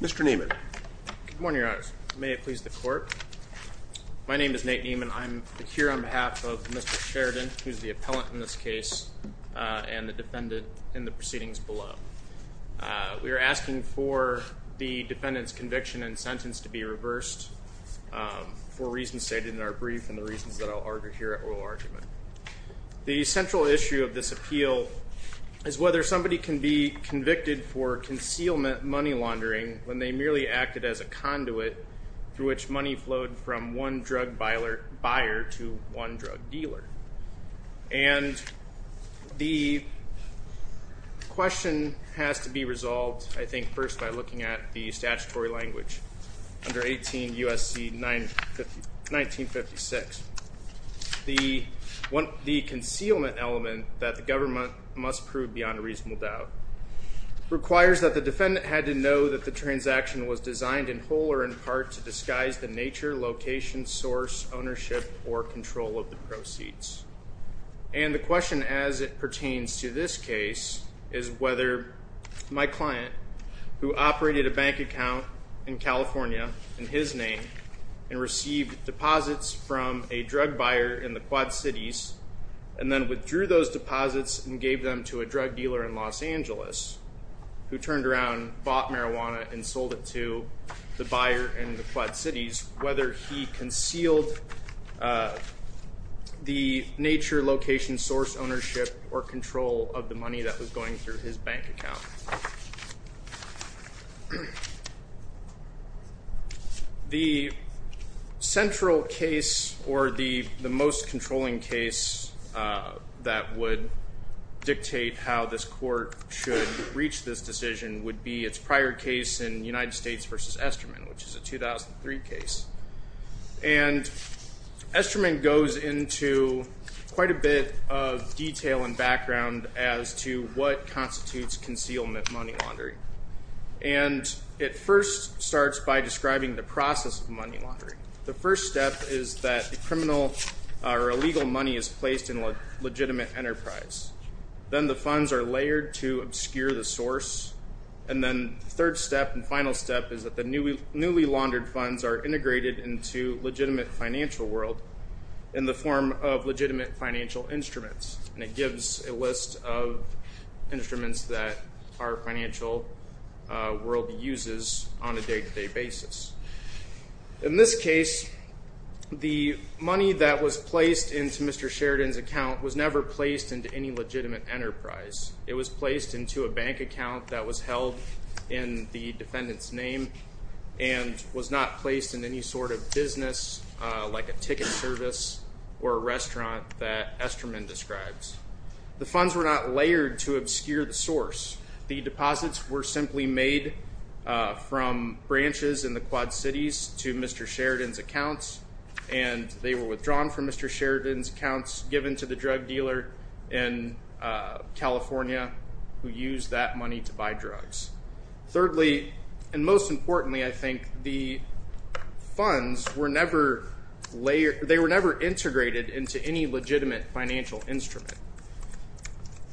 Mr. Neiman. Good morning, Your Honors. May it please the Court. My name is Nate Neiman. I'm here on behalf of Mr. Sheridan, who's the appellant in this case and the defendant in the proceedings below. We are asking for the defendant's conviction and sentence to be reversed for reasons stated in our brief and the reasons that I'll argue here at oral argument. The central issue of this appeal is whether somebody can be convicted for concealment money laundering when they merely acted as a conduit through which money flowed from one drug buyer to one drug dealer. And the question has to be resolved, I think, first by looking at the statutory language under 18 U.S.C. 1956. The concealment element that the government must prove beyond a reasonable doubt requires that the defendant had to know that the transaction was designed in whole or in part to disguise the nature, location, source, ownership, or control of the proceeds. And the question as it pertains to this case is whether my client, who operated a bank account in California in his name and received deposits from a drug buyer in the Quad Cities and then withdrew those deposits and gave them to a drug dealer in Los Angeles, who turned around, bought marijuana, and sold it to the buyer in the Quad Cities, whether he concealed the nature, location, source, ownership, or control of the money that was going through his bank account. The central case or the most controlling case that would dictate how this court should reach this decision would be its prior case in United States v. Esterman, which is a 2003 case. And Esterman goes into quite a bit of detail and background as to what constitutes concealment money laundering. And it first starts by describing the process of money laundering. The first step is that the criminal or illegal money is placed in a legitimate enterprise. Then the funds are layered to obscure the source. And then the third step and final step is that the newly laundered funds are integrated into legitimate financial world in the form of legitimate financial instruments. And it gives a list of instruments that our financial world uses on a day-to-day basis. In this case, the money that was placed into Mr. Sheridan's account was never placed into any legitimate enterprise. It was placed into a bank account that was held in the defendant's name and was not placed in any sort of business like a ticket service or a restaurant that Esterman describes. The funds were not layered to obscure the source. The deposits were simply made from branches in the Quad Cities to Mr. Sheridan's accounts, and they were withdrawn from Mr. Sheridan's accounts, given to the drug dealer in California who used that money to buy drugs. Thirdly, and most importantly, I think, the funds were never layered. They were never integrated into any legitimate financial instrument.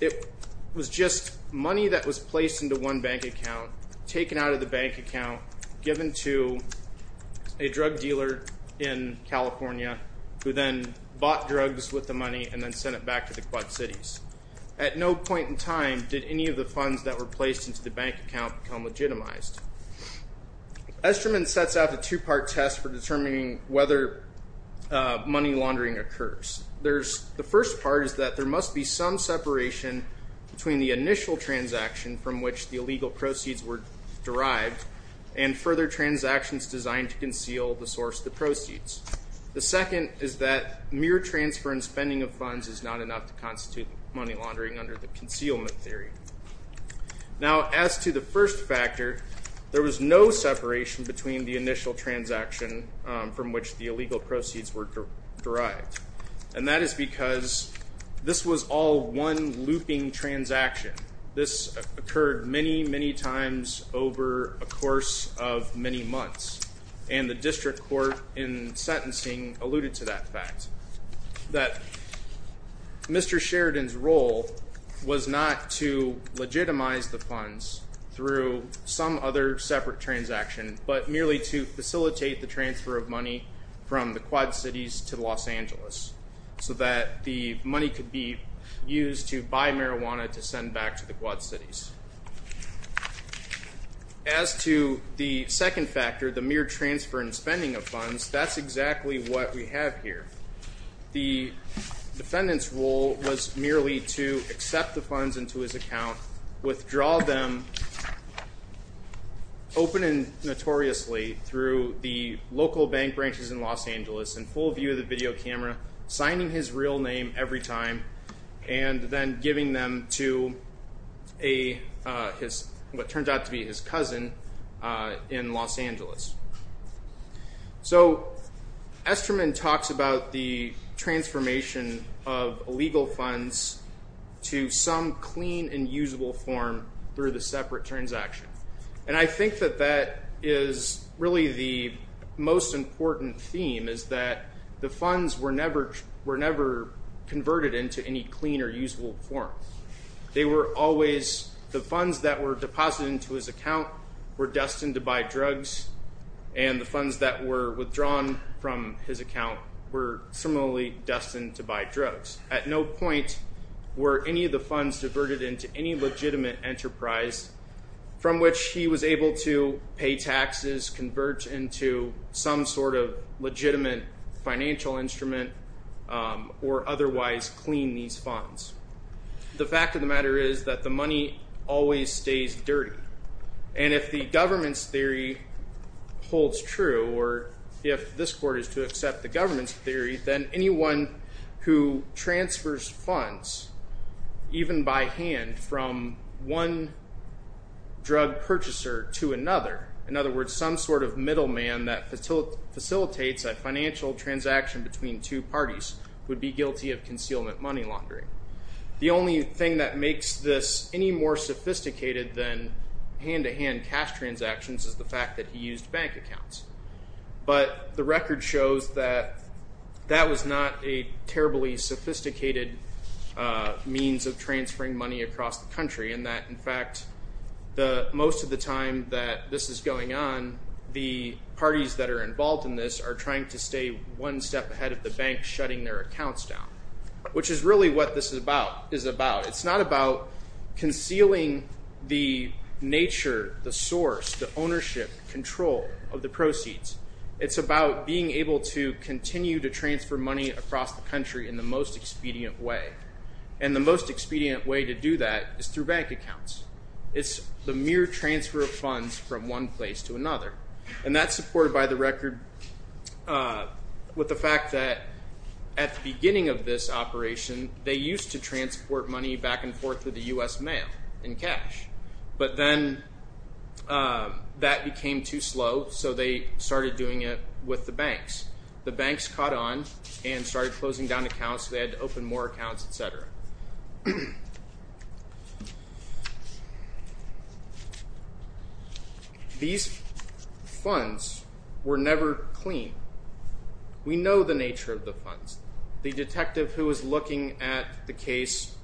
It was just money that was placed into one bank account, taken out of the bank account, given to a drug dealer in California who then bought drugs with the money and then sent it back to the Quad Cities. At no point in time did any of the funds that were placed into the bank account become legitimized. Esterman sets out a two-part test for determining whether money laundering occurs. The first part is that there must be some separation between the initial transaction from which the illegal proceeds were derived and further transactions designed to conceal the source of the proceeds. The second is that mere transfer and spending of funds is not enough to constitute money laundering under the concealment theory. Now, as to the first factor, there was no separation between the initial transaction from which the illegal proceeds were derived, and that is because this was all one looping transaction. This occurred many, many times over a course of many months, and the district court in sentencing alluded to that fact, that Mr. Sheridan's role was not to legitimize the funds through some other separate transaction, but merely to facilitate the transfer of money from the Quad Cities to Los Angeles, so that the money could be used to buy marijuana to send back to the Quad Cities. As to the second factor, the mere transfer and spending of funds, that's exactly what we have here. The defendant's role was merely to accept the funds into his account, withdraw them open and notoriously through the local bank branches in Los Angeles in full view of the video camera, signing his real name every time, and then giving them to what turned out to be his cousin in Los Angeles. So, Esterman talks about the transformation of illegal funds to some clean and usable form through the separate transaction. And I think that that is really the most important theme, is that the funds were never converted into any clean or usable form. They were always, the funds that were deposited into his account were destined to buy drugs, and the funds that were withdrawn from his account were similarly destined to buy drugs. At no point were any of the funds diverted into any legitimate enterprise from which he was able to pay taxes, convert into some sort of legitimate financial instrument, or otherwise clean these funds. The fact of the matter is that the money always stays dirty. And if the government's theory holds true, or if this court is to accept the government's theory, then anyone who transfers funds, even by hand, from one drug purchaser to another, in other words, some sort of middleman that facilitates a financial transaction between two parties, would be guilty of concealment money laundering. The only thing that makes this any more sophisticated than hand-to-hand cash transactions is the fact that he used bank accounts. But the record shows that that was not a terribly sophisticated means of transferring money across the country, and that, in fact, most of the time that this is going on, the parties that are involved in this are trying to stay one step ahead of the bank shutting their accounts down, which is really what this is about. It's not about concealing the nature, the source, the ownership, control of the proceeds. It's about being able to continue to transfer money across the country in the most expedient way. And the most expedient way to do that is through bank accounts. It's the mere transfer of funds from one place to another. And that's supported by the record with the fact that at the beginning of this operation, they used to transport money back and forth through the U.S. mail in cash. But then that became too slow, so they started doing it with the banks. The banks caught on and started closing down accounts, so they had to open more accounts, et cetera. These funds were never clean. We know the nature of the funds. The detective who was looking at the case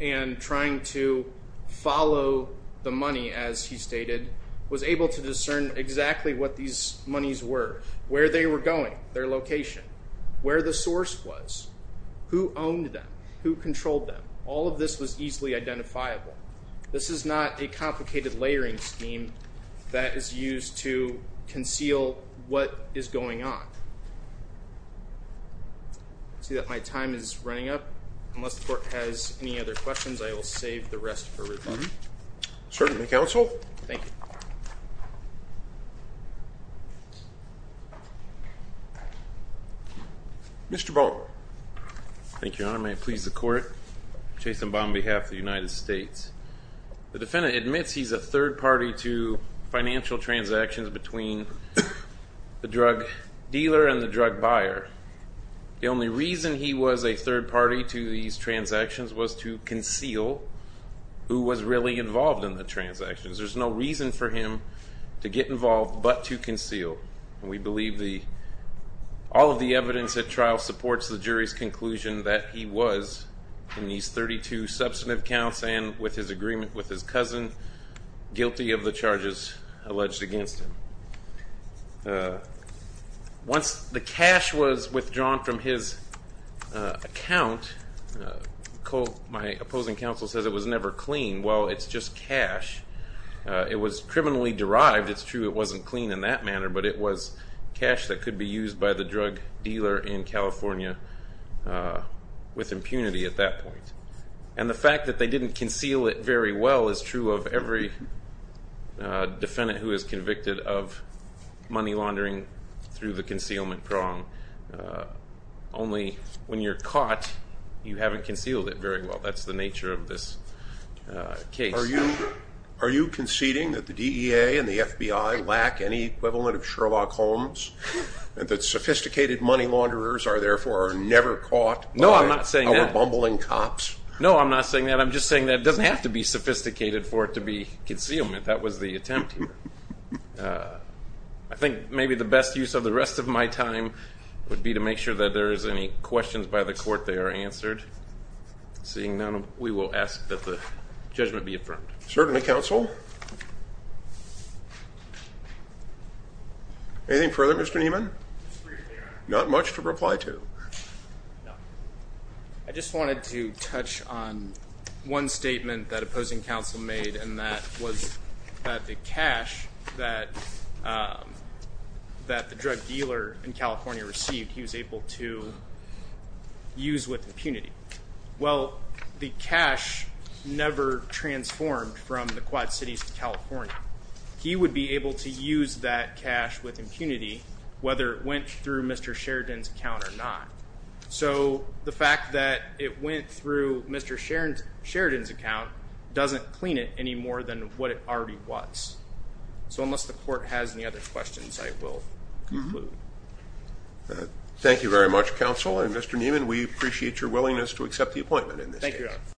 and trying to follow the money, as he stated, was able to discern exactly what these monies were, where they were going, their location, where the source was, who owned them, who controlled them. All of this was easily identifiable. This is not a complicated layering scheme that is used to conceal what is going on. I see that my time is running up. Unless the court has any other questions, I will save the rest for later. Certainly, counsel. Thank you. Mr. Baldwin. Thank you, Your Honor. May it please the court. Jason Baldwin on behalf of the United States. The defendant admits he's a third party to financial transactions between the drug dealer and the drug buyer. The only reason he was a third party to these transactions was to conceal who was really involved in the transactions. There's no reason for him to get involved but to conceal. And we believe all of the evidence at trial supports the jury's conclusion that he was, in these 32 substantive counts and with his agreement with his cousin, guilty of the charges alleged against him. Once the cash was withdrawn from his account, my opposing counsel says it was never clean. Well, it's just cash. It was criminally derived. It's true it wasn't clean in that manner, but it was cash that could be used by the drug dealer in California with impunity at that point. And the fact that they didn't conceal it very well is true of every defendant who is convicted of money laundering through the concealment prong. Only when you're caught, you haven't concealed it very well. That's the nature of this case. Are you conceding that the DEA and the FBI lack any equivalent of Sherlock Holmes and that sophisticated money launderers are therefore never caught by our bumbling cops? No, I'm not saying that. No, I'm not saying that. I'm just saying that it doesn't have to be sophisticated for it to be concealment. That was the attempt here. I think maybe the best use of the rest of my time would be to make sure that there is any questions by the court they are answered. Seeing none, we will ask that the judgment be affirmed. Certainly, counsel. Anything further, Mr. Nieman? Not much to reply to. I just wanted to touch on one statement that opposing counsel made, and that was that the cash that the drug dealer in California received, he was able to use with impunity. Well, the cash never transformed from the Quad Cities to California. He would be able to use that cash with impunity whether it went through Mr. Sheridan's account or not. So the fact that it went through Mr. Sheridan's account doesn't clean it any more than what it already was. So unless the court has any other questions, I will conclude. Thank you very much, counsel. And, Mr. Nieman, we appreciate your willingness to accept the appointment in this case. Thank you, Your Honor.